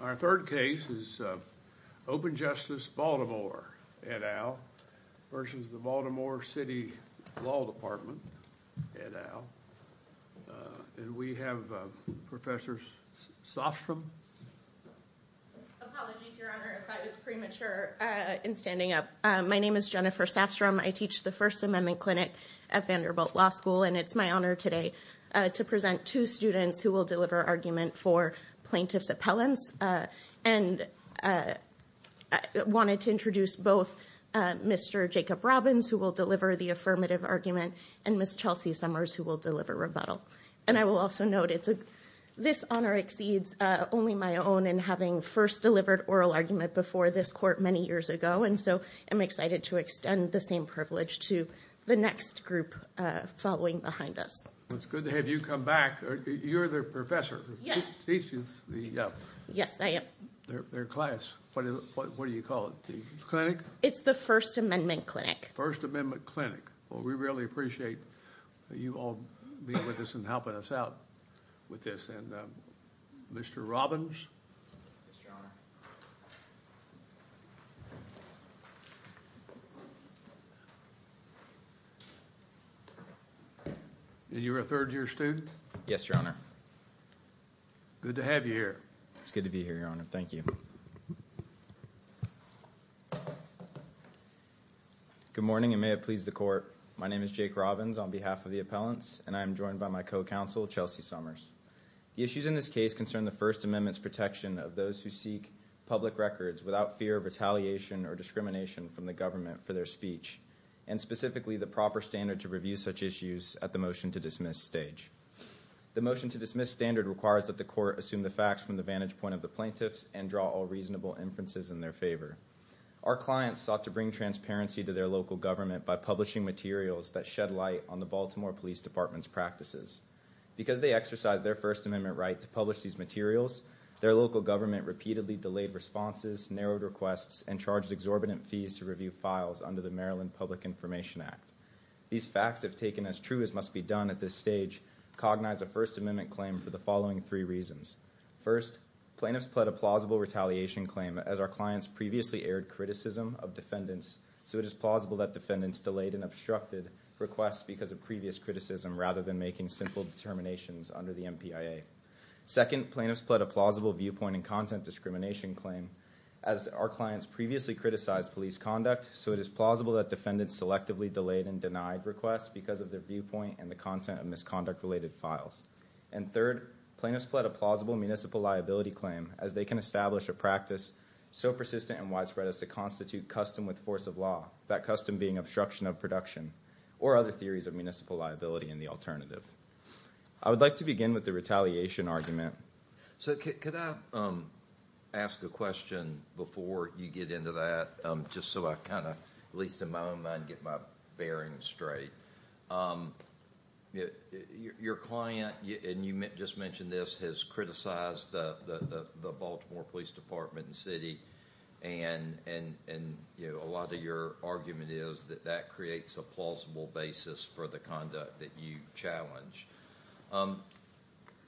Our third case is Open Justice Baltimore v. Baltimore City Law Department. We have Professor Safstrom. Apologies, Your Honor, if I was premature in standing up. My name is Jennifer Safstrom. I teach the First Amendment Clinic at Vanderbilt Law School. And it's my honor today to present two students who will deliver argument for plaintiff's appellants. And I wanted to introduce both Mr. Jacob Robbins, who will deliver the affirmative argument, and Ms. Chelsea Summers, who will deliver rebuttal. And I will also note this honor exceeds only my own in having first delivered oral argument before this court many years ago. And so I'm excited to extend the same privilege to the next group following behind us. It's good to have you come back. You're their professor. Yes. Yes, I am. Their class. What do you call it? The clinic? It's the First Amendment Clinic. First Amendment Clinic. Well, we really appreciate you all being with us and helping us out with this. Mr. Robbins? And you're a third-year student? Yes, Your Honor. Good to have you here. It's good to be here, Your Honor. Thank you. Good morning, and may it please the court. My name is Jake Robbins on behalf of the appellants, and I am joined by my co-counsel, Chelsea Summers. The issues in this case concern the First Amendment's protection of those who seek public records without fear of retaliation or discrimination from the government for their speech, and specifically the proper standard to review such issues at the motion-to-dismiss stage. The motion-to-dismiss standard requires that the court assume the facts from the vantage point of the plaintiffs and draw all reasonable inferences in their favor. Our clients sought to bring transparency to their local government by publishing materials that shed light on the Baltimore Police Department's practices. Because they exercised their First Amendment right to publish these materials, their local government repeatedly delayed responses, narrowed requests, and charged exorbitant fees to review files under the Maryland Public Information Act. These facts, if taken as true as must be done at this stage, cognize a First Amendment claim for the following three reasons. First, plaintiffs pled a plausible retaliation claim as our clients previously aired criticism of defendants, so it is plausible that defendants delayed and obstructed requests because of previous criticism rather than making simple determinations under the MPIA. Second, plaintiffs pled a plausible viewpoint and content discrimination claim as our clients previously criticized police conduct, so it is plausible that defendants selectively delayed and denied requests because of their viewpoint and the content of misconduct-related files. And third, plaintiffs pled a plausible municipal liability claim as they can establish a practice so persistent and widespread as to constitute custom with force of law, that custom being obstruction of production or other theories of municipal liability in the alternative. I would like to begin with the retaliation argument. So could I ask a question before you get into that, just so I kind of, at least in my own mind, get my bearings straight? Your client, and you just mentioned this, has criticized the Baltimore Police Department and city, and a lot of your argument is that that creates a plausible basis for the conduct that you challenge.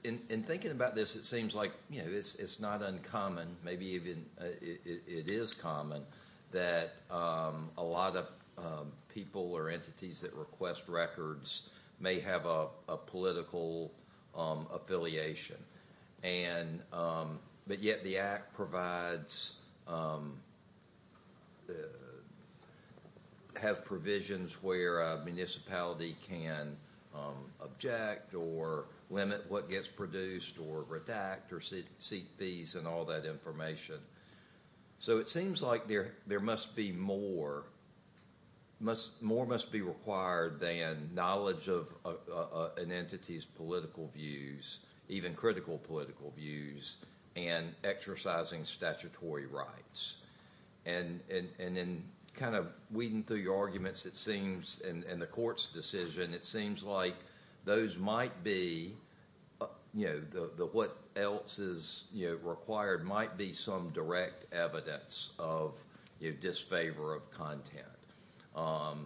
In thinking about this, it seems like it's not uncommon, maybe even it is common, that a lot of people or entities that request records may have a political affiliation, but yet the Act provides, has provisions where a municipality can object or limit what gets produced or redact or seek fees and all that information. So it seems like there must be more, more must be required than knowledge of an entity's political views, even critical political views, and exercising statutory rights. And in kind of weeding through your arguments, it seems, in the court's decision, it seems like those might be, what else is required might be some direct evidence of disfavor of content.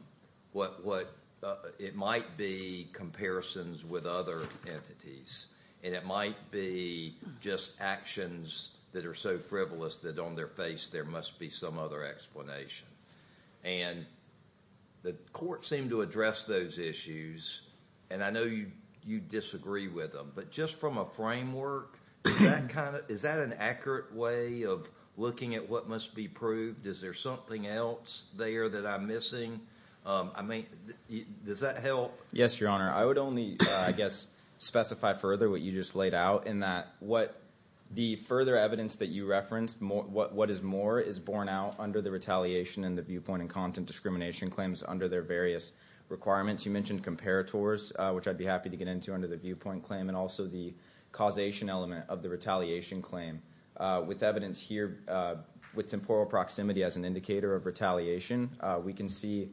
It might be comparisons with other entities, and it might be just actions that are so frivolous that on their face there must be some other explanation. And the court seemed to address those issues, and I know you disagree with them, but just from a framework, is that an accurate way of looking at what must be proved? Is there something else there that I'm missing? I mean, does that help? Yes, Your Honor. I would only, I guess, specify further what you just laid out in that The further evidence that you referenced, what is more is borne out under the retaliation and the viewpoint and content discrimination claims under their various requirements. You mentioned comparators, which I'd be happy to get into under the viewpoint claim, and also the causation element of the retaliation claim. With evidence here, with temporal proximity as an indicator of retaliation, we can see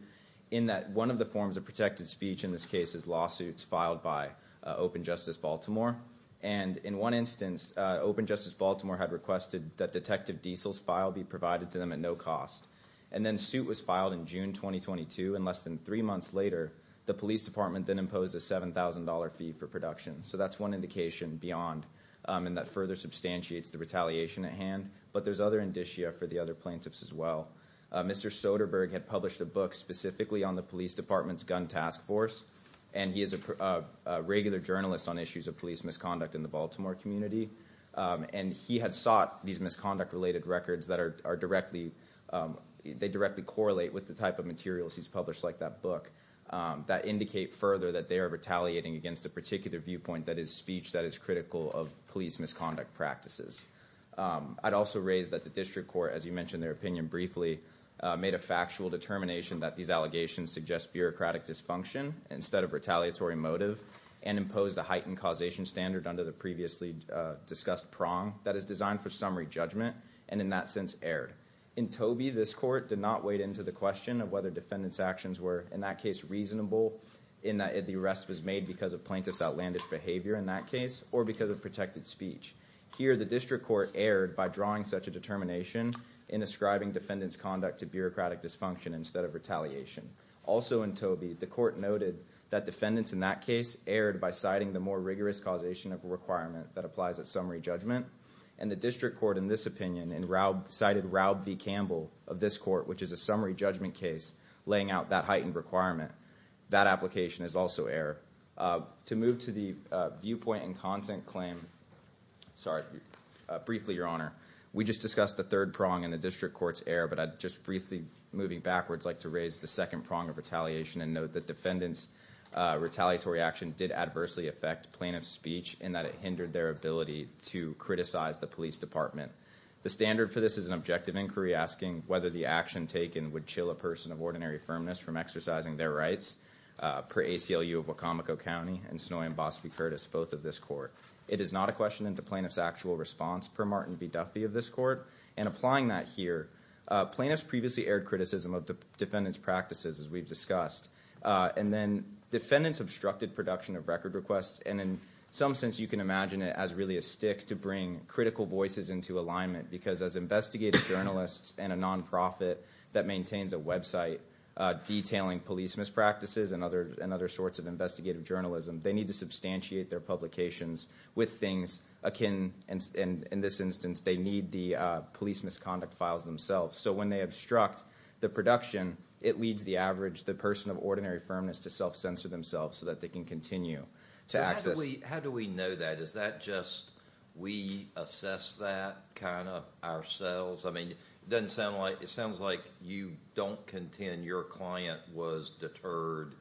in that one of the forms of protected speech in this case is lawsuits filed by Open Justice Baltimore. And in one instance, Open Justice Baltimore had requested that detective diesels filed be provided to them at no cost. And then suit was filed in June 2022, and less than three months later, the police department then imposed a $7,000 fee for production. So that's one indication beyond, and that further substantiates the retaliation at hand. But there's other indicia for the other plaintiffs as well. Mr. Soderberg had published a book specifically on the police department's gun task force, and he is a regular journalist on issues of police misconduct in the Baltimore community. And he had sought these misconduct-related records that directly correlate with the type of materials he's published, like that book, that indicate further that they are retaliating against a particular viewpoint, that is speech that is critical of police misconduct practices. I'd also raise that the district court, as you mentioned their opinion briefly, made a factual determination that these allegations suggest bureaucratic dysfunction instead of retaliatory motive, and imposed a heightened causation standard under the previously discussed prong that is designed for summary judgment, and in that sense erred. In Tobey, this court did not wade into the question of whether defendants' actions were in that case reasonable, in that the arrest was made because of plaintiff's outlandish behavior in that case, or because of protected speech. Here, the district court erred by drawing such a determination in ascribing defendants' conduct to bureaucratic dysfunction instead of retaliation. Also in Tobey, the court noted that defendants in that case erred by citing the more rigorous causation of a requirement that applies at summary judgment, and the district court in this opinion cited Raub v. Campbell of this court, which is a summary judgment case laying out that heightened requirement. That application is also error. To move to the viewpoint and content claim, sorry, briefly, your honor, we just discussed the third prong in the district court's error, but I'd just briefly, moving backwards, like to raise the second prong of retaliation, and note that defendants' retaliatory action did adversely affect plaintiff's speech, in that it hindered their ability to criticize the police department. The standard for this is an objective inquiry asking whether the action taken would chill a person of ordinary firmness from exercising their rights, per ACLU of Wacomico County and Snowy and Bosby-Curtis, both of this court. It is not a question of the plaintiff's actual response, per Martin B. Duffy of this court. And applying that here, plaintiffs previously aired criticism of defendants' practices, as we've discussed, and then defendants obstructed production of record requests, and in some sense you can imagine it as really a stick to bring critical voices into alignment, because as investigative journalists and a nonprofit that maintains a website detailing police mispractices and other sorts of investigative journalism, they need to substantiate their publications with things akin, and in this instance they need the police misconduct files themselves. So when they obstruct the production, it leads the average, the person of ordinary firmness, to self-censor themselves so that they can continue to access. How do we know that? Is that just we assess that kind of ourselves? I mean it sounds like you don't contend your client was deterred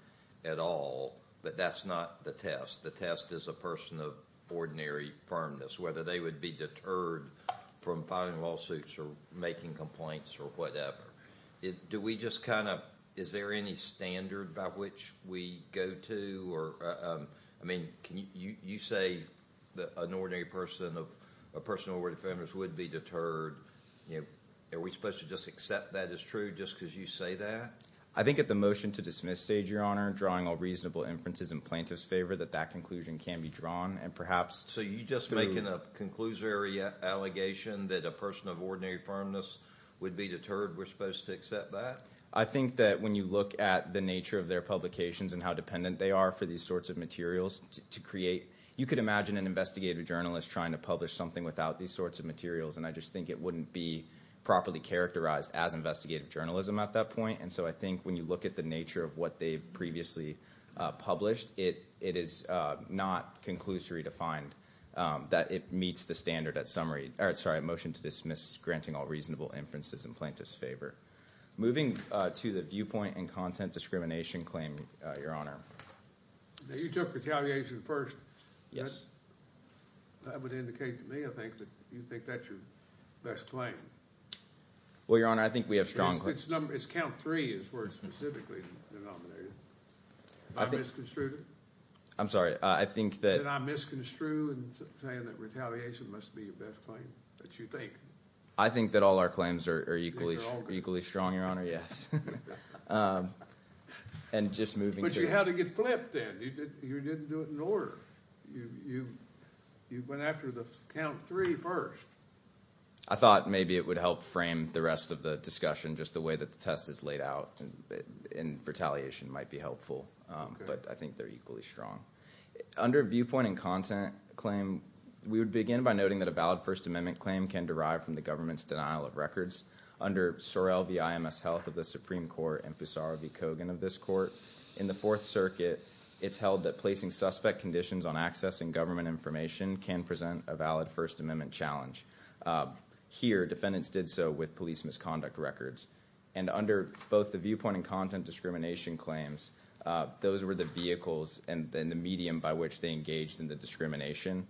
at all, but that's not the test. The test is a person of ordinary firmness, whether they would be deterred from filing lawsuits or making complaints or whatever. Do we just kind of, is there any standard by which we go to? I mean, you say that an ordinary person of a person of ordinary firmness would be deterred. Are we supposed to just accept that as true just because you say that? I think at the motion to dismiss stage, Your Honor, drawing all reasonable inferences in plaintiff's favor, that that conclusion can be drawn, and perhaps- So you're just making a conclusory allegation that a person of ordinary firmness would be deterred. We're supposed to accept that? I think that when you look at the nature of their publications and how dependent they are for these sorts of materials to create, you could imagine an investigative journalist trying to publish something without these sorts of materials, and I just think it wouldn't be properly characterized as investigative journalism at that point. And so I think when you look at the nature of what they've previously published, it is not conclusory to find that it meets the standard at summary. Sorry, motion to dismiss, granting all reasonable inferences in plaintiff's favor. Moving to the viewpoint and content discrimination claim, Your Honor. You took retaliation first. That would indicate to me, I think, that you think that's your best claim. Well, Your Honor, I think we have strong- It's count three is where it's specifically denominated. I misconstrued it? I'm sorry, I think that- Did I misconstrue in saying that retaliation must be your best claim that you think? I think that all our claims are equally strong, Your Honor, yes. And just moving to- But you had to get flipped then. You didn't do it in order. You went after the count three first. I thought maybe it would help frame the rest of the discussion, just the way that the test is laid out, and retaliation might be helpful. But I think they're equally strong. Under viewpoint and content claim, we would begin by noting that a valid First Amendment claim can derive from the government's denial of records. Under Sorrell v. IMS Health of the Supreme Court and Poussar v. Kogan of this court, in the Fourth Circuit, it's held that placing suspect conditions on accessing government information can present a valid First Amendment challenge. Here, defendants did so with police misconduct records. And under both the viewpoint and content discrimination claims, those were the vehicles and the medium by which they engaged in the discrimination.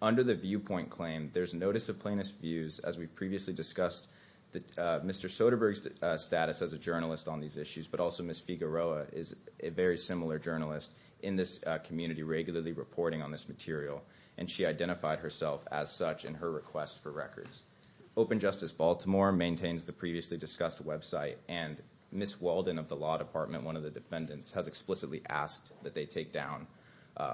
Under the viewpoint claim, there's notice of plaintiff's views, as we previously discussed Mr. Soderberg's status as a journalist on these issues, but also Ms. Figueroa is a very similar journalist in this community, regularly reporting on this material. And she identified herself as such in her request for records. Open Justice Baltimore maintains the previously discussed website, and Ms. Weldon of the law department, one of the defendants, has explicitly asked that they take down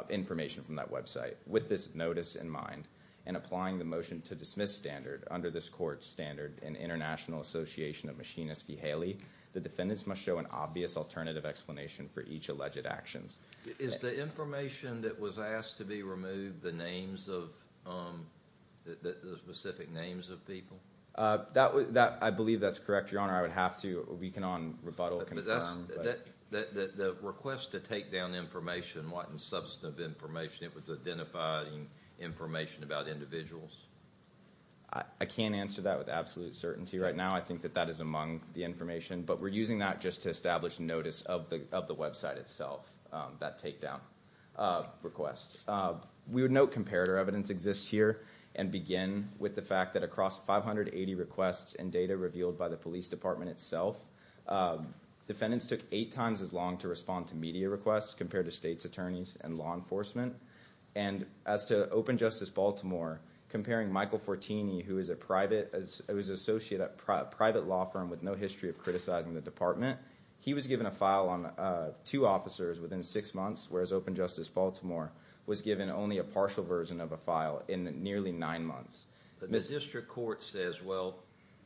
information from that website. With this notice in mind, and applying the motion to dismiss standard, under this court's standard in International Association of Machinists v. Haley, the defendants must show an obvious alternative explanation for each alleged actions. Is the information that was asked to be removed the names of, the specific names of people? I believe that's correct, Your Honor. I would have to, we can on rebuttal confirm. The request to take down information, what substantive information? It was identifying information about individuals? I can't answer that with absolute certainty right now. I think that that is among the information, but we're using that just to establish notice of the website itself, that takedown request. We would note comparator evidence exists here, and begin with the fact that across 580 requests and data revealed by the police department itself, defendants took eight times as long to respond to media requests compared to state's attorneys and law enforcement. And as to Open Justice Baltimore, comparing Michael Fortini, who is an associate at a private law firm with no history of criticizing the department, he was given a file on two officers within six months, whereas Open Justice Baltimore was given only a partial version of a file in nearly nine months. The district court says, well,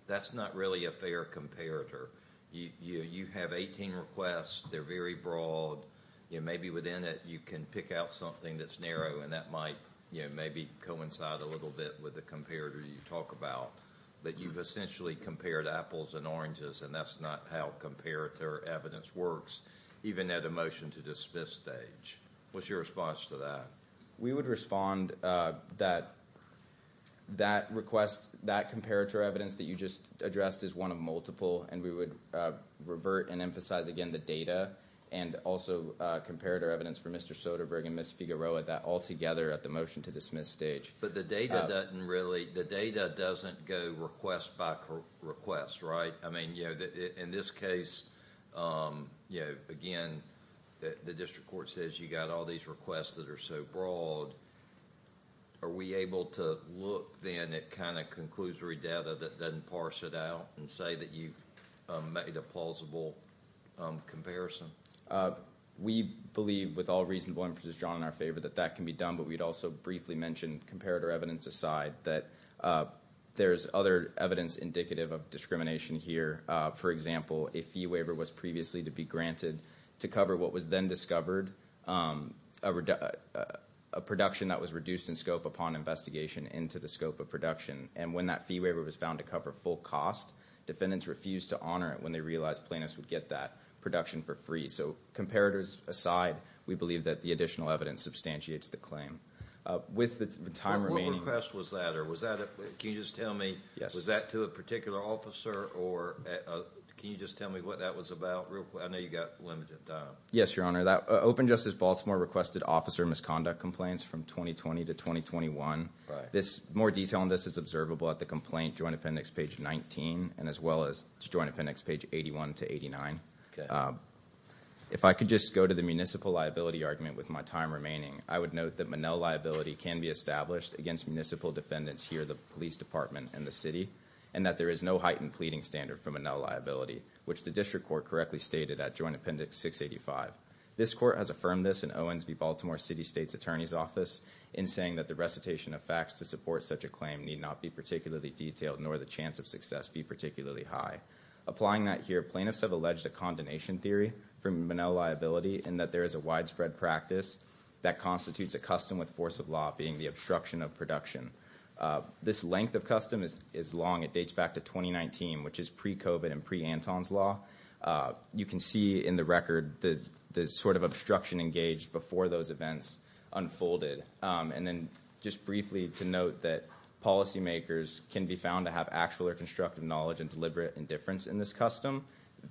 that's not really a fair comparator. You have 18 requests. They're very broad. Maybe within it you can pick out something that's narrow, and that might maybe coincide a little bit with the comparator you talk about. But you've essentially compared apples and oranges, and that's not how comparator evidence works, even at a motion-to-dismiss stage. What's your response to that? We would respond that that request, that comparator evidence that you just addressed is one of multiple, and we would revert and emphasize again the data and also comparator evidence for Mr. Soderberg and Ms. Figueroa, that all together at the motion-to-dismiss stage. But the data doesn't go request by request, right? In this case, again, the district court says you've got all these requests that are so broad. Are we able to look then at kind of conclusory data that doesn't parse it out and say that you've made a plausible comparison? We believe with all reasonable emphasis drawn in our favor that that can be done, but we'd also briefly mention, comparator evidence aside, that there's other evidence indicative of discrimination here. For example, a fee waiver was previously to be granted to cover what was then discovered, a production that was reduced in scope upon investigation into the scope of production. And when that fee waiver was found to cover full cost, defendants refused to honor it when they realized plaintiffs would get that production for free. So comparators aside, we believe that the additional evidence substantiates the claim. What request was that? Can you just tell me, was that to a particular officer, or can you just tell me what that was about real quick? I know you've got limited time. Yes, Your Honor. Open Justice Baltimore requested officer misconduct complaints from 2020 to 2021. More detail on this is observable at the complaint joint appendix page 19 and as well as joint appendix page 81 to 89. If I could just go to the municipal liability argument with my time remaining, I would note that Monell liability can be established against municipal defendants here, the police department, and the city, and that there is no heightened pleading standard for Monell liability, which the district court correctly stated at joint appendix 685. This court has affirmed this in Owens v. Baltimore City State's Attorney's Office in saying that the recitation of facts to support such a claim need not be particularly detailed, nor the chance of success be particularly high. Applying that here, plaintiffs have alleged a condemnation theory for Monell liability in that there is a widespread practice that constitutes a custom with force of law, being the obstruction of production. This length of custom is long. It dates back to 2019, which is pre-COVID and pre-Anton's Law. You can see in the record the sort of obstruction engaged before those events unfolded. And then just briefly to note that policymakers can be found to have actual or constructive knowledge and deliberate indifference in this custom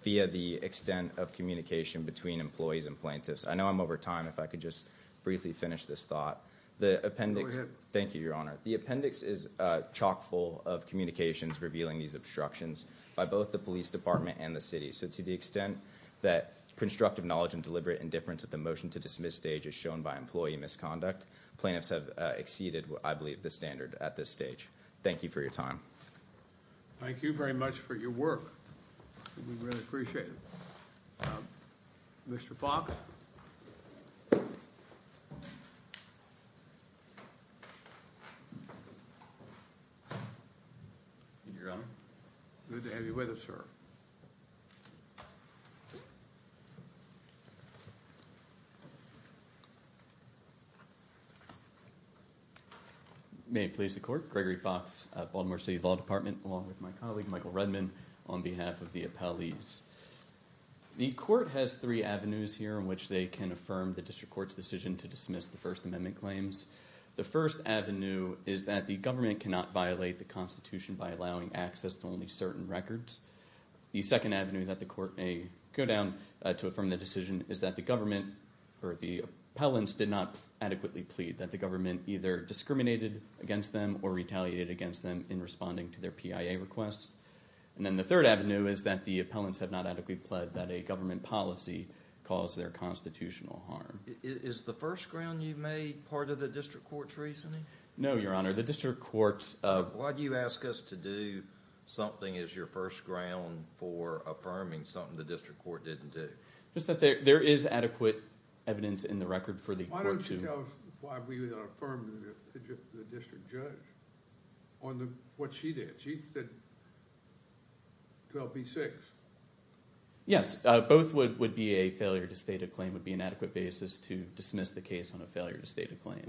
via the extent of communication between employees and plaintiffs. I know I'm over time. If I could just briefly finish this thought. Go ahead. Thank you, Your Honor. The appendix is chock full of communications revealing these obstructions by both the police department and the city. So to the extent that constructive knowledge and deliberate indifference at the motion to dismiss stage is shown by employee misconduct, plaintiffs have exceeded, I believe, the standard at this stage. Thank you for your time. Thank you very much for your work. We really appreciate it. Mr. Fox. Your Honor. Good to have you with us, sir. May it please the Court. Gregory Fox, Baltimore City Law Department, along with my colleague, Michael Redman, on behalf of the appellees. The Court has three avenues here in which they can affirm the District Court's decision to dismiss the First Amendment claims. The first avenue is that the government cannot violate the Constitution by allowing access to only certain records. The second avenue that the Court may go down to affirm the decision is that the government or the appellants did not adequately plead, that the government either discriminated against them or retaliated against them in responding to their PIA requests. And then the third avenue is that the appellants have not adequately pled that a government policy caused their constitutional harm. Is the first ground you made part of the District Court's reasoning? No, Your Honor. The District Court's... Why do you ask us to do something as your first ground for affirming something the District Court didn't do? Just that there is adequate evidence in the record for the Court to... Why don't you tell us why we didn't affirm the District Judge on what she did? She said 12B6. Yes. Both would be a failure to state a claim, would be an adequate basis to dismiss the case on a failure to state a claim.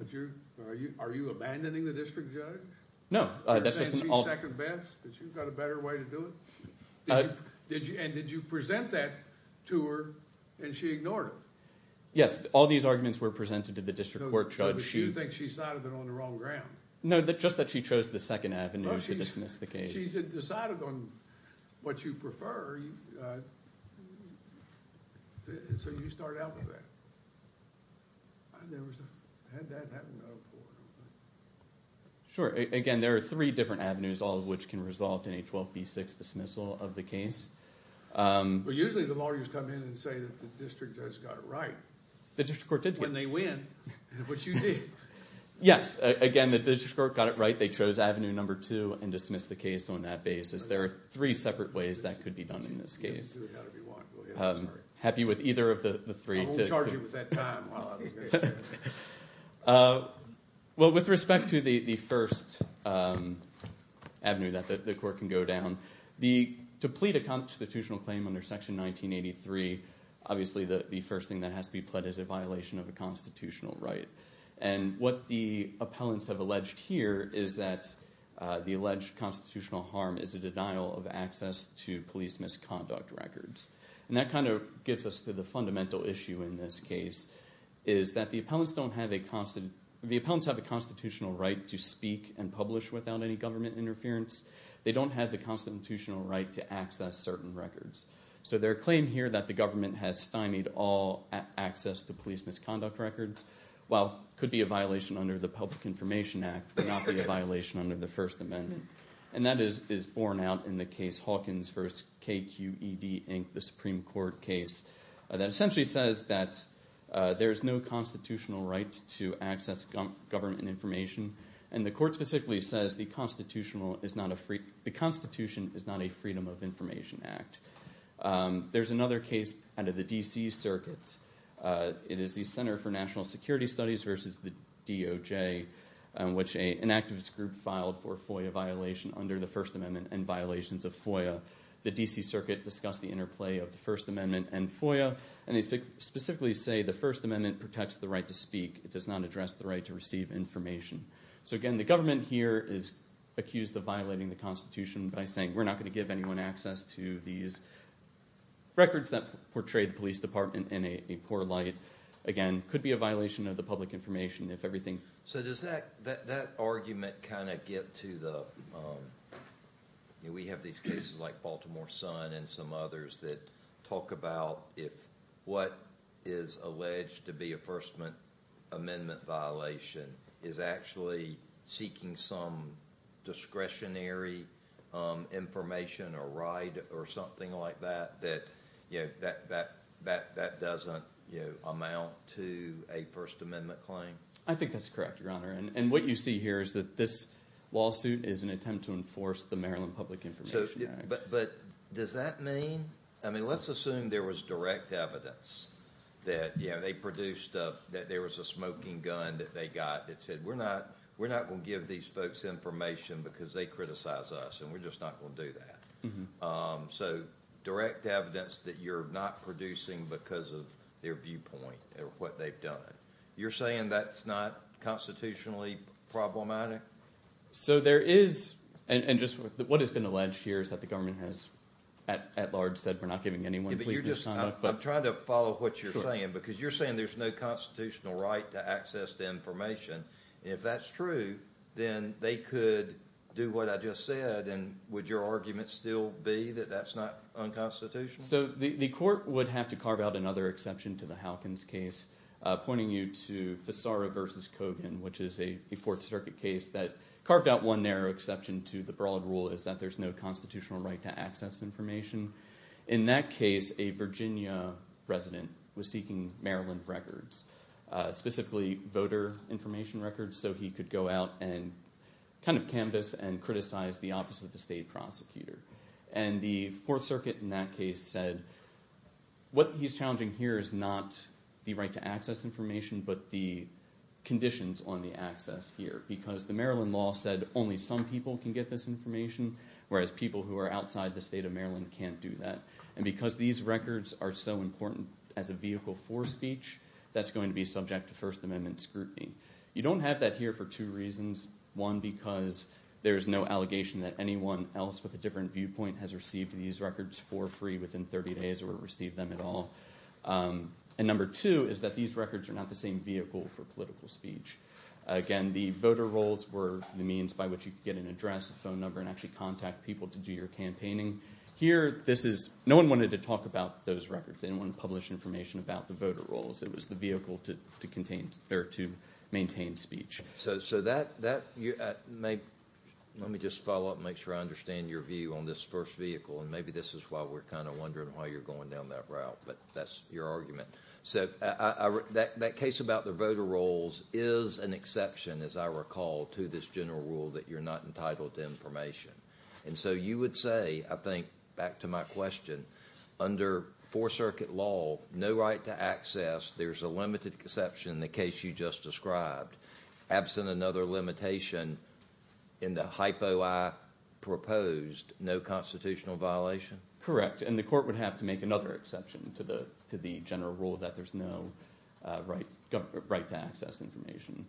Are you abandoning the District Judge? No. You're saying she's second best? Has she got a better way to do it? And did you present that to her and she ignored it? Yes. All these arguments were presented to the District Court Judge. So you think she cited it on the wrong ground? No, just that she chose the second avenue to dismiss the case. She's decided on what you prefer, so you start out with that. I never had that happen before. Sure. Again, there are three different avenues, all of which can result in a 12B6 dismissal of the case. Well, usually the lawyers come in and say that the District Judge got it right. The District Court did get it right. When they win, which you did. Yes. Again, the District Court got it right. They chose avenue number two and dismissed the case on that basis. There are three separate ways that could be done in this case. You can do it however you want. Go ahead. I'm sorry. I'm happy with either of the three. We'll charge you with that time. Well, that was great. Well, with respect to the first avenue that the court can go down, to plead a constitutional claim under Section 1983, obviously the first thing that has to be pled is a violation of a constitutional right. And what the appellants have alleged here is that the alleged constitutional harm is a denial of access to police misconduct records. And that kind of gets us to the fundamental issue in this case, is that the appellants have a constitutional right to speak and publish without any government interference. They don't have the constitutional right to access certain records. So their claim here that the government has stymied all access to police misconduct records, while it could be a violation under the Public Information Act, would not be a violation under the First Amendment. And that is borne out in the case Hawkins v. KQED, Inc., the Supreme Court case, that essentially says that there is no constitutional right to access government information. And the court specifically says the Constitution is not a Freedom of Information Act. There's another case under the D.C. Circuit. It is the Center for National Security Studies v. the DOJ, which an activist group filed for FOIA violation under the First Amendment and violations of FOIA. The D.C. Circuit discussed the interplay of the First Amendment and FOIA, and they specifically say the First Amendment protects the right to speak. It does not address the right to receive information. So again, the government here is accused of violating the Constitution by saying we're not going to give anyone access to these records that portray the police department in a poor light. Again, it could be a violation of the public information if everything is clear. So does that argument kind of get to the we have these cases like Baltimore Sun and some others that talk about if what is alleged to be a First Amendment violation is actually seeking some discretionary information or right or something like that, that that doesn't amount to a First Amendment claim? I think that's correct, Your Honor. And what you see here is that this lawsuit is an attempt to enforce the Maryland Public Information Act. But does that mean? I mean, let's assume there was direct evidence that they produced that there was a smoking gun that they got that said we're not going to give these folks information because they criticize us, and we're just not going to do that. So direct evidence that you're not producing because of their viewpoint or what they've done. You're saying that's not constitutionally problematic? So there is, and just what has been alleged here is that the government has at large said we're not giving anyone police misconduct. I'm trying to follow what you're saying because you're saying there's no constitutional right to access to information. If that's true, then they could do what I just said, and would your argument still be that that's not unconstitutional? So the court would have to carve out another exception to the Fisara v. Kogan, which is a Fourth Circuit case that carved out one narrow exception to the broad rule is that there's no constitutional right to access information. In that case, a Virginia resident was seeking Maryland records, specifically voter information records, so he could go out and kind of canvass and criticize the opposite of the state prosecutor. And the Fourth Circuit in that case said what he's challenging here is not the right to access information but the conditions on the access here because the Maryland law said only some people can get this information, whereas people who are outside the state of Maryland can't do that. And because these records are so important as a vehicle for speech, that's going to be subject to First Amendment scrutiny. You don't have that here for two reasons. One, because there's no allegation that anyone else with a different viewpoint has received these records for free within 30 days or received them at all. And number two is that these records are not the same vehicle for political speech. Again, the voter rolls were the means by which you could get an address, a phone number, and actually contact people to do your campaigning. Here, no one wanted to talk about those records. They didn't want to publish information about the voter rolls. It was the vehicle to maintain speech. Let me just follow up and make sure I understand your view on this first vehicle, and maybe this is why we're kind of wondering why you're going down that route, but that's your argument. So that case about the voter rolls is an exception, as I recall, to this general rule that you're not entitled to information. And so you would say, I think, back to my question, under Fourth Circuit law, no right to access, there's a limited exception in the case you just described, absent another limitation in the hypo I proposed, no constitutional violation? Correct. And the court would have to make another exception to the general rule that there's no right to access information.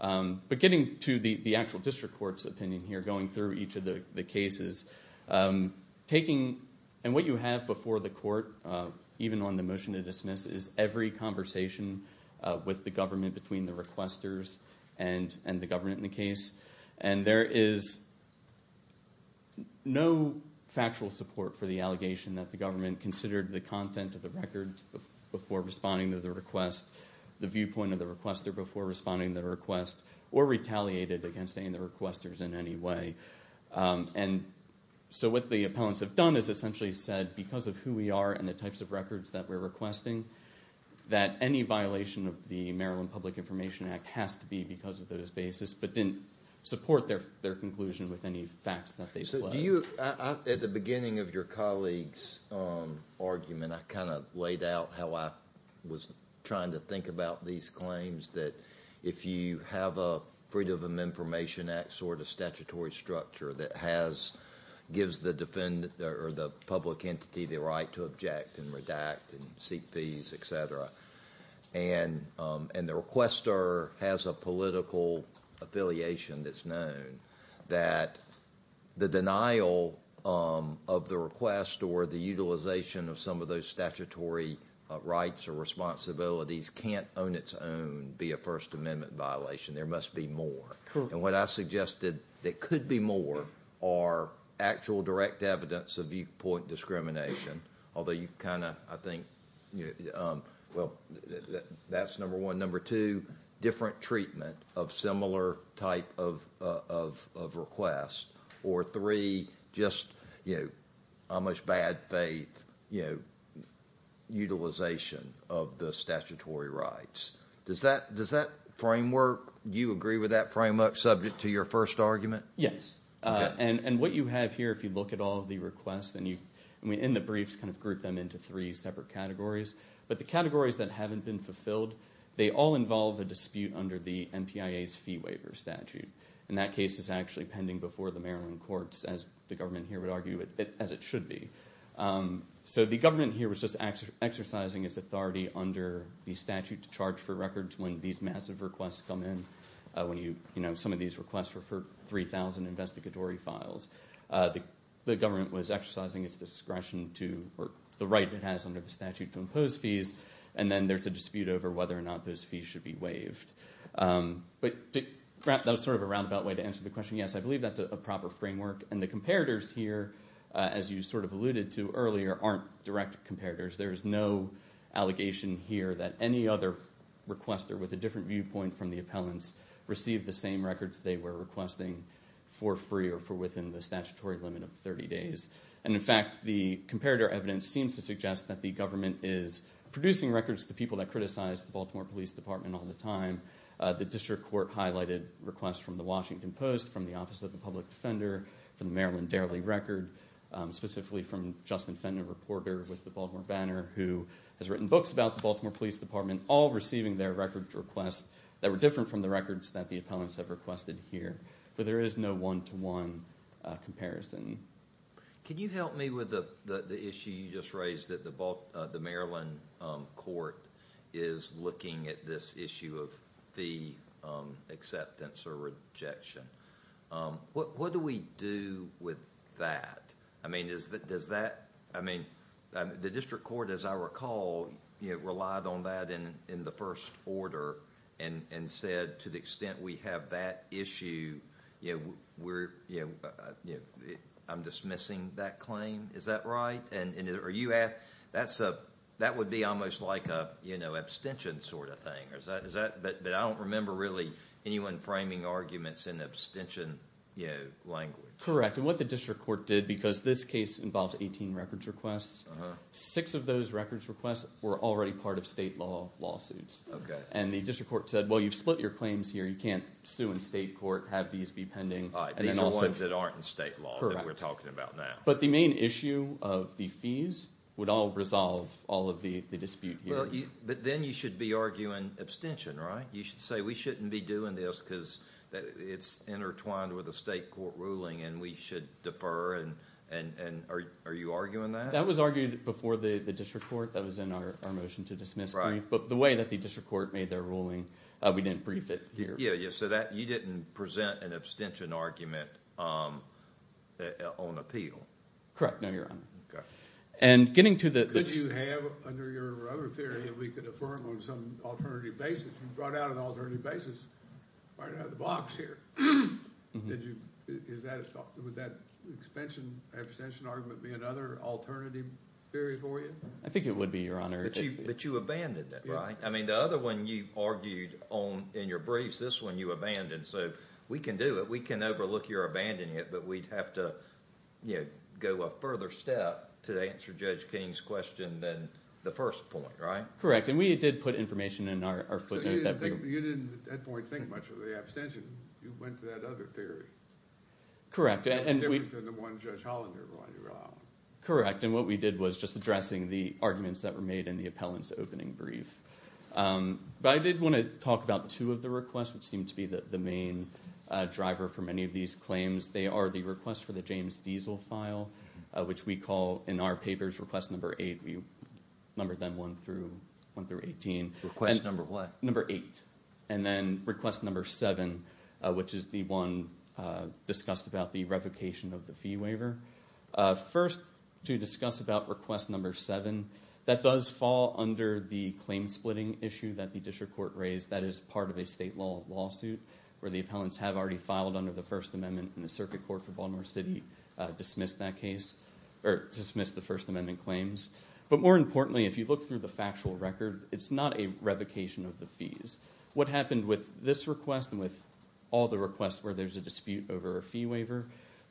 But getting to the actual district court's opinion here, going through each of the cases, taking what you have before the court, even on the motion to dismiss, is every conversation with the government between the requesters and the government in the case. And there is no factual support for the allegation that the government considered the content of the record before responding to the request, the viewpoint of the requester before responding to the request, or retaliated against any of the requesters in any way. And so what the appellants have done is essentially said, because of who we are and the types of records that we're requesting, that any violation of the Maryland Public Information Act has to be because of those basis, but didn't support their conclusion with any facts that they put. At the beginning of your colleague's argument, I kind of laid out how I was trying to think about these claims, that if you have a Freedom of Information Act sort of statutory structure that gives the public entity the right to object and redact and seek fees, et cetera, and the requester has a political affiliation that's known, that the denial of the request or the utilization of some of those statutory rights or responsibilities can't on its own be a First Amendment violation. There must be more. And what I suggested that could be more are actual direct evidence of viewpoint discrimination, although you kind of, I think, well, that's number one. Number two, different treatment of similar type of request. Or three, just how much bad faith utilization of the statutory rights. Does that framework, do you agree with that framework subject to your first argument? Yes. And what you have here, if you look at all of the requests, and in the briefs kind of group them into three separate categories, but the categories that haven't been fulfilled, they all involve a dispute under the MPIA's fee waiver statute. And that case is actually pending before the Maryland courts, as the government here would argue, as it should be. So the government here was just exercising its authority under the statute to charge for records when these massive requests come in. Some of these requests were for 3,000 investigatory files. The government was exercising its discretion to work the right it has under the statute to impose fees, and then there's a dispute over whether or not those fees should be waived. But that was sort of a roundabout way to answer the question. Yes, I believe that's a proper framework. And the comparators here, as you sort of alluded to earlier, aren't direct comparators. There's no allegation here that any other requester with a different viewpoint from the appellants received the same records they were requesting for free or for within the statutory limit of 30 days. And, in fact, the comparator evidence seems to suggest that the government is producing records to people that criticize the Baltimore Police Department all the time. The district court highlighted requests from the Washington Post, from the Office of the Public Defender, from the Maryland Dairley Record, specifically from Justin Fender, a reporter with the Baltimore Banner who has written books about the Baltimore Police Department, all receiving their records requests that were different from the records that the appellants have requested here. But there is no one-to-one comparison. Can you help me with the issue you just raised that the Maryland court is looking at this issue of fee acceptance or rejection? What do we do with that? I mean, does that—I mean, the district court, as I recall, relied on that in the first order and said, to the extent we have that issue, I'm dismissing that claim. Is that right? Are you—that would be almost like an abstention sort of thing. But I don't remember really anyone framing arguments in abstention language. Correct. And what the district court did, because this case involves 18 records requests, six of those records requests were already part of state law lawsuits. And the district court said, well, you've split your claims here. You can't sue in state court, have these be pending. These are ones that aren't in state law that we're talking about now. But the main issue of the fees would all resolve all of the dispute here. But then you should be arguing abstention, right? You should say we shouldn't be doing this because it's intertwined with a state court ruling and we should defer. And are you arguing that? That was argued before the district court. That was in our motion to dismiss brief. But the way that the district court made their ruling, we didn't brief it here. Yeah, yeah. So you didn't present an abstention argument on appeal. Correct. No, Your Honor. Okay. And getting to the— Could you have under your other theory that we could affirm on some alternative basis? You brought out an alternative basis right out of the box here. Would that abstention argument be another alternative theory for you? I think it would be, Your Honor. But you abandoned it, right? I mean the other one you argued in your briefs, this one you abandoned. So we can do it. We can overlook your abandoning it. But we'd have to go a further step to answer Judge King's question than the first point, right? Correct. And we did put information in our footnote that— You didn't at that point think much of the abstention. You went to that other theory. Correct. That was different than the one Judge Hollander brought out. Correct. And what we did was just addressing the arguments that were made in the appellant's opening brief. But I did want to talk about two of the requests, which seem to be the main driver for many of these claims. They are the request for the James Diesel file, which we call in our papers request number eight. We numbered them one through 18. Request number what? Number eight. And then request number seven, which is the one discussed about the revocation of the fee waiver. First, to discuss about request number seven, that does fall under the claim splitting issue that the district court raised. That is part of a state law lawsuit where the appellants have already filed under the First Amendment, and the Circuit Court for Baltimore City dismissed that case, or dismissed the First Amendment claims. But more importantly, if you look through the factual record, it's not a revocation of the fees. What happened with this request and with all the requests where there's a dispute over a fee waiver,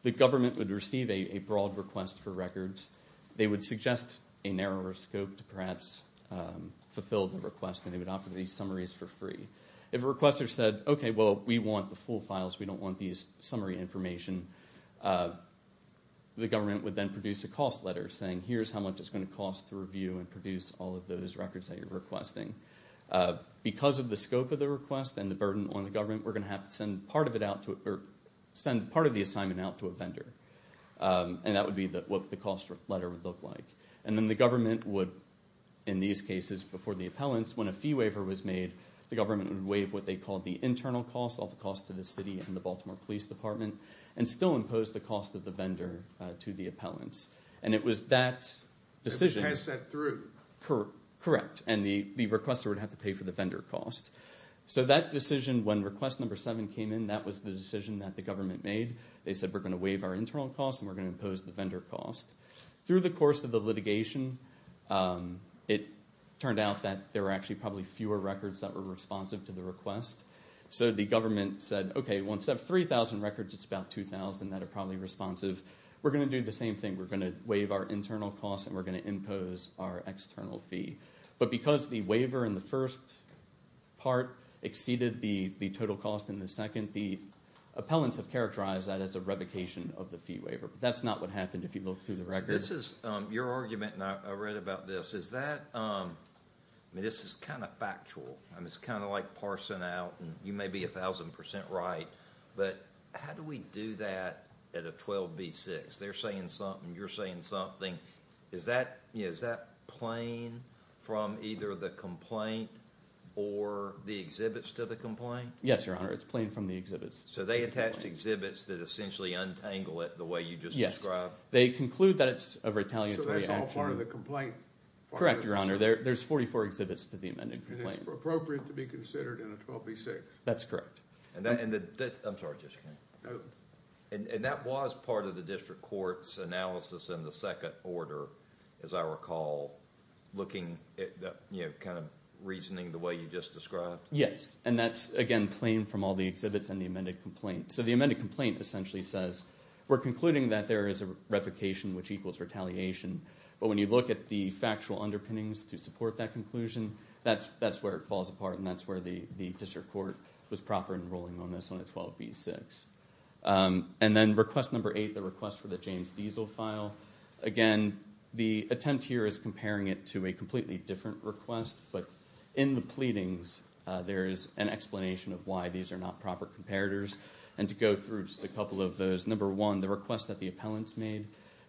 the government would receive a broad request for records. They would suggest a narrower scope to perhaps fulfill the request, and they would offer these summaries for free. If a requester said, okay, well, we want the full files. We don't want these summary information. The government would then produce a cost letter saying, here's how much it's going to cost to review and produce all of those records that you're requesting. Because of the scope of the request and the burden on the government, we're going to have to send part of the assignment out to a vendor. And that would be what the cost letter would look like. And then the government would, in these cases before the appellants, when a fee waiver was made, the government would waive what they called the internal cost, all the costs to the city and the Baltimore Police Department, and still impose the cost of the vendor to the appellants. And it was that decision. Pass that through. Correct, and the requester would have to pay for the vendor cost. So that decision, when request number seven came in, that was the decision that the government made. They said, we're going to waive our internal cost, and we're going to impose the vendor cost. Through the course of the litigation, it turned out that there were actually probably fewer records that were responsive to the request. So the government said, okay, once you have 3,000 records, it's about 2,000 that are probably responsive. We're going to do the same thing. We're going to waive our internal cost, and we're going to impose our external fee. But because the waiver in the first part exceeded the total cost in the second, the appellants have characterized that as a revocation of the fee waiver. But that's not what happened if you look through the records. This is your argument, and I read about this. This is kind of factual. It's kind of like parsing out, and you may be 1,000% right, but how do we do that at a 12B6? They're saying something. You're saying something. Is that plain from either the complaint or the exhibits to the complaint? Yes, Your Honor. It's plain from the exhibits. So they attached exhibits that essentially untangle it the way you just described? They conclude that it's a retaliatory action. So that's all part of the complaint? Correct, Your Honor. There's 44 exhibits to the amended complaint. And it's appropriate to be considered in a 12B6? That's correct. I'm sorry. And that was part of the district court's analysis in the second order, as I recall, kind of reasoning the way you just described? Yes, and that's, again, plain from all the exhibits and the amended complaint. So the amended complaint essentially says, we're concluding that there is a revocation which equals retaliation. But when you look at the factual underpinnings to support that conclusion, that's where it falls apart, and that's where the district court was proper in ruling on this on a 12B6. And then request number eight, the request for the James Diesel file. Again, the attempt here is comparing it to a completely different request. But in the pleadings, there is an explanation of why these are not proper comparators. And to go through just a couple of those, number one, the request that the appellants made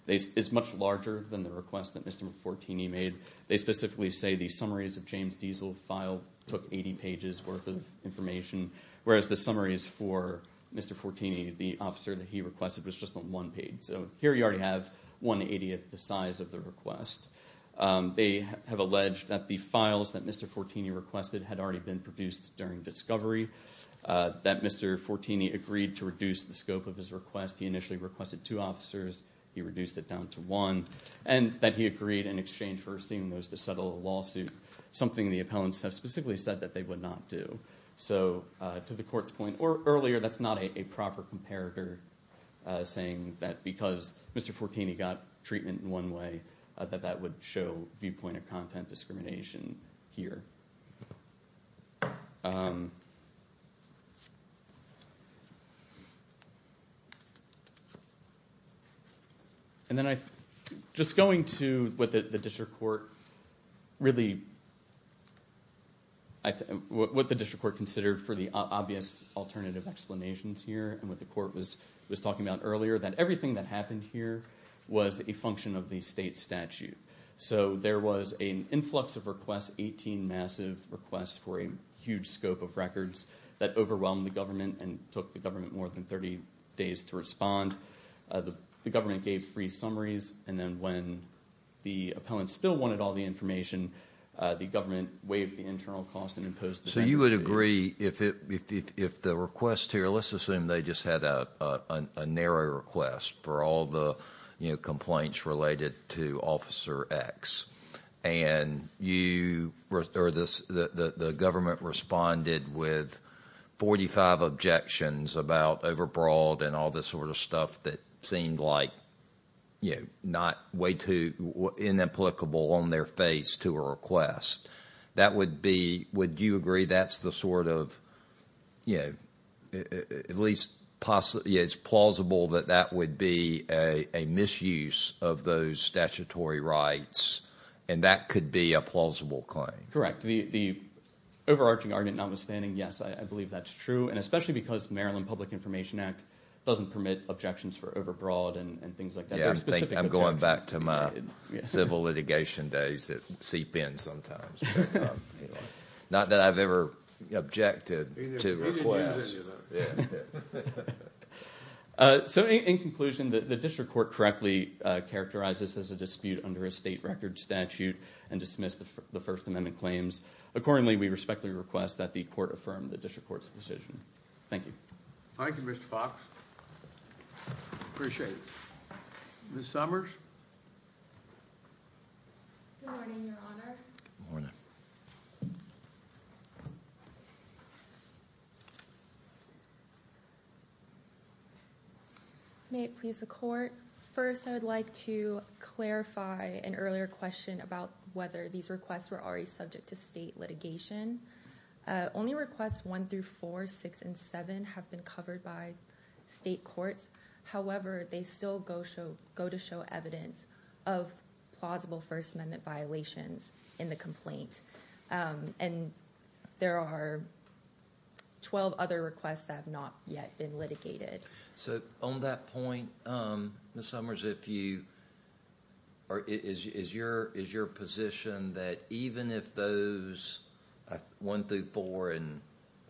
is much larger than the request that Mr. Mfortini made. They specifically say the summaries of James Diesel file took 80 pages worth of information, whereas the summaries for Mr. Mfortini, the officer that he requested, was just on one page. So here you already have 180th the size of the request. They have alleged that the files that Mr. Mfortini requested had already been produced during discovery, that Mr. Mfortini agreed to reduce the scope of his request. He initially requested two officers. He reduced it down to one. And that he agreed in exchange for seeing those to settle a lawsuit, something the appellants have specifically said that they would not do. So to the court's point earlier, that's not a proper comparator, saying that because Mr. Mfortini got treatment in one way, that that would show viewpoint of content discrimination here. And then just going to what the district court considered for the obvious alternative explanations here, and what the court was talking about earlier, that everything that happened here was a function of the state statute. So there was an influx of requests, 18 massive requests for a huge scope of records, that overwhelmed the government and took the government more than 30 days to respond. The government gave free summaries, and then when the appellants still wanted all the information, the government waived the internal cost and imposed the benefit. So you would agree if the request here, Well, let's assume they just had a narrow request for all the complaints related to Officer X. And the government responded with 45 objections about overbroad and all this sort of stuff that seemed like not way too inapplicable on their face to a request. That would be, would you agree that's the sort of, you know, at least it's plausible that that would be a misuse of those statutory rights, and that could be a plausible claim? Correct. The overarching argument notwithstanding, yes, I believe that's true. And especially because Maryland Public Information Act doesn't permit objections for overbroad and things like that. I'm going back to my civil litigation days that seep in sometimes. Not that I've ever objected to requests. So in conclusion, the district court correctly characterized this as a dispute under a state record statute and dismissed the First Amendment claims. Accordingly, we respectfully request that the court affirm the district court's decision. Thank you. Thank you, Mr. Fox. Appreciate it. Ms. Summers? Good morning, Your Honor. Good morning. May it please the court. First, I would like to clarify an earlier question about whether these requests were already subject to state litigation. Only requests 1 through 4, 6, and 7 have been covered by state courts. However, they still go to show evidence of plausible First Amendment violations in the complaint. And there are 12 other requests that have not yet been litigated. So on that point, Ms. Summers, is your position that even if those 1 through 4, and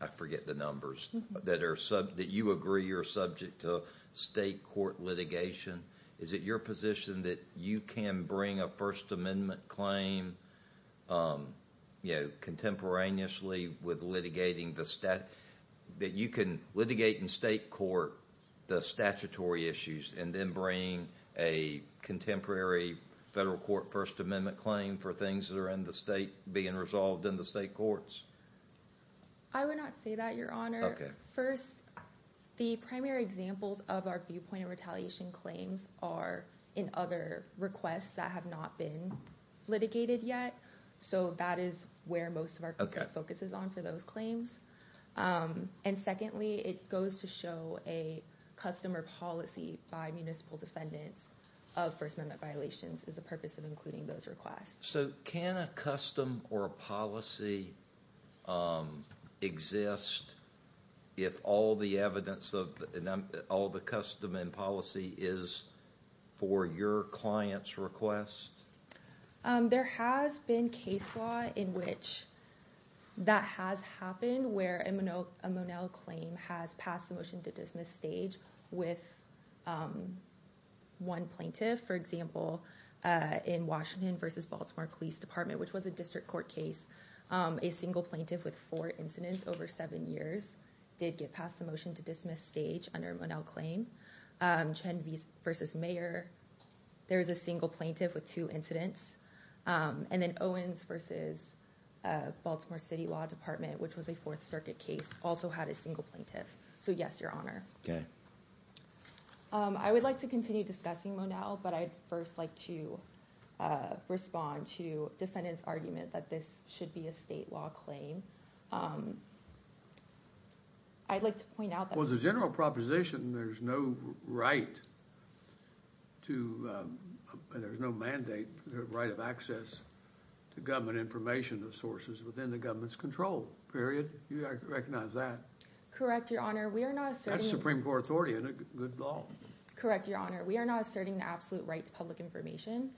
I forget the numbers, that you agree you're subject to state court litigation, is it your position that you can bring a First Amendment claim contemporaneously with litigating the statute, that you can litigate in state court the statutory issues and then bring a contemporary federal court First Amendment claim for things that are in the state being resolved in the state courts? I would not say that, Your Honor. First, the primary examples of our viewpoint of retaliation claims are in other requests that have not been litigated yet. So that is where most of our focus is on for those claims. And secondly, it goes to show a custom or policy by municipal defendants of First Amendment violations is the purpose of including those requests. So can a custom or a policy exist if all the evidence, all the custom and policy is for your client's request? There has been case law in which that has happened, where a Monell claim has passed the motion to dismiss stage with one plaintiff. For example, in Washington v. Baltimore Police Department, which was a district court case, a single plaintiff with four incidents over seven years did get past the motion to dismiss stage under a Monell claim. Chen v. Mayor, there is a single plaintiff with two incidents. And then Owens v. Baltimore City Law Department, which was a Fourth Circuit case, also had a single plaintiff. So yes, Your Honor. Okay. I would like to continue discussing Monell, but I'd first like to respond to defendants' argument that this should be a state law claim. I'd like to point out that— In the Monell proposition, there's no right to—there's no mandate or right of access to government information or sources within the government's control, period. You recognize that. Correct, Your Honor. We are not asserting— That's Supreme Court authority and a good law. Correct, Your Honor. We are not asserting the absolute right to public information.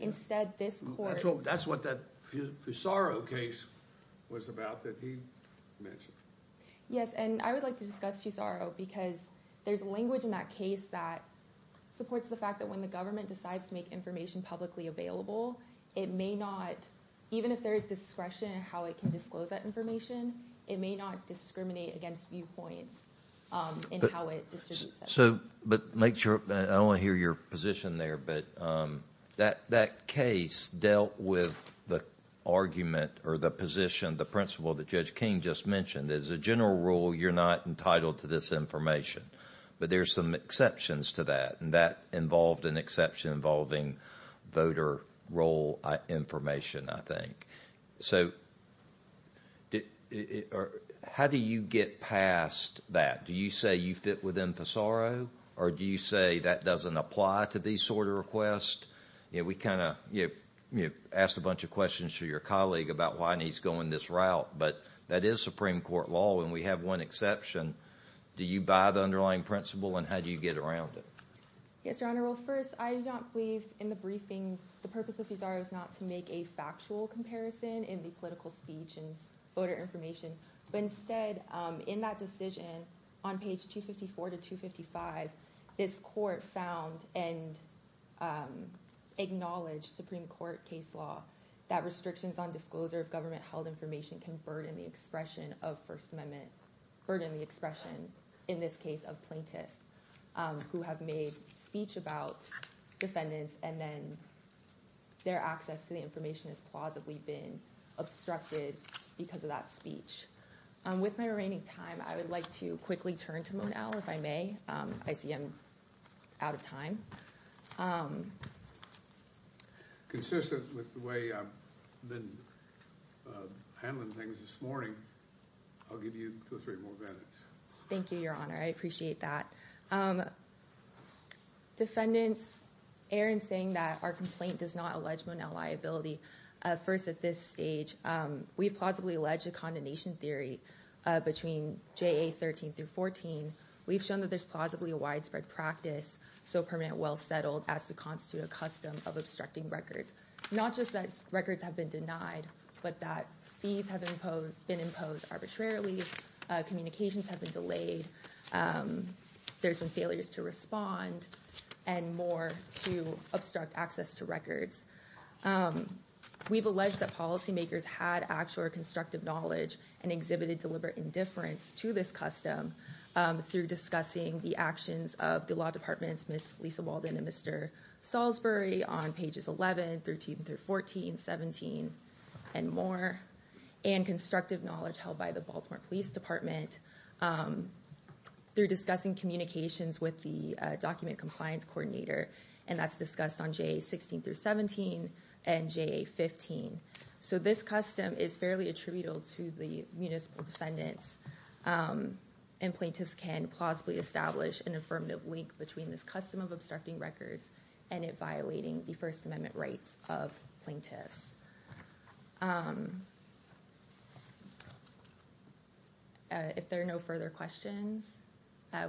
Instead, this court— That's what that Fusaro case was about that he mentioned. Yes, and I would like to discuss Fusaro because there's language in that case that supports the fact that when the government decides to make information publicly available, it may not— even if there is discretion in how it can disclose that information, it may not discriminate against viewpoints in how it distributes that. But make sure—I don't want to hear your position there, but that case dealt with the argument or the position, the principle that Judge King just mentioned. As a general rule, you're not entitled to this information, but there's some exceptions to that, and that involved an exception involving voter roll information, I think. So how do you get past that? Do you say you fit within Fusaro, or do you say that doesn't apply to these sort of requests? We kind of asked a bunch of questions to your colleague about why he's going this route, but that is Supreme Court law, and we have one exception. Do you buy the underlying principle, and how do you get around it? Yes, Your Honor. Well, first, I do not believe in the briefing the purpose of Fusaro is not to make a factual comparison in the political speech and voter information, but instead, in that decision, on page 254 to 255, this court found and acknowledged Supreme Court case law that restrictions on disclosure of government-held information can burden the expression of First Amendment— burden the expression, in this case, of plaintiffs who have made speech about defendants, and then their access to the information has plausibly been obstructed because of that speech. With my remaining time, I would like to quickly turn to Monell, if I may. I see I'm out of time. Consistent with the way I've been handling things this morning, I'll give you two or three more minutes. Thank you, Your Honor. I appreciate that. Defendants, Aaron's saying that our complaint does not allege Monell liability. First, at this stage, we've plausibly alleged a condemnation theory between JA 13 through 14. We've shown that there's plausibly a widespread practice, so permanent, well-settled, as to constitute a custom of obstructing records. Not just that records have been denied, but that fees have been imposed arbitrarily, communications have been delayed, there's been failures to respond, and more to obstruct access to records. We've alleged that policymakers had actual or constructive knowledge and exhibited deliberate indifference to this custom through discussing the actions of the law departments, Ms. Lisa Walden and Mr. Salisbury, on pages 11, 13 through 14, 17, and more, and constructive knowledge held by the Baltimore Police Department through discussing communications with the document compliance coordinator, and that's discussed on JA 16 through 17 and JA 15. So this custom is fairly attributable to the municipal defendants, and plaintiffs can plausibly establish an affirmative link between this custom of obstructing records and it violating the First Amendment rights of plaintiffs. If there are no further questions,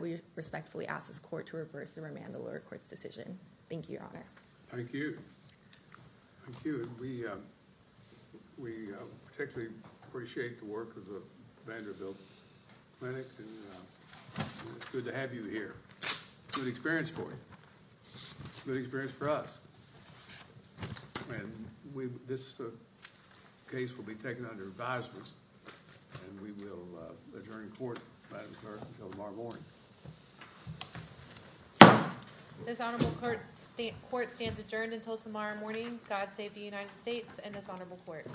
we respectfully ask this court to reverse and remand the lower court's decision. Thank you, Your Honor. Thank you. Thank you, and we particularly appreciate the work of the Vanderbilt Clinic, and it's good to have you here. It's a good experience for you. It's a good experience for us. And this case will be taken under advisement, and we will adjourn court, Madam Clerk, until tomorrow morning. This honorable court stands adjourned until tomorrow morning. God save the United States and this honorable court.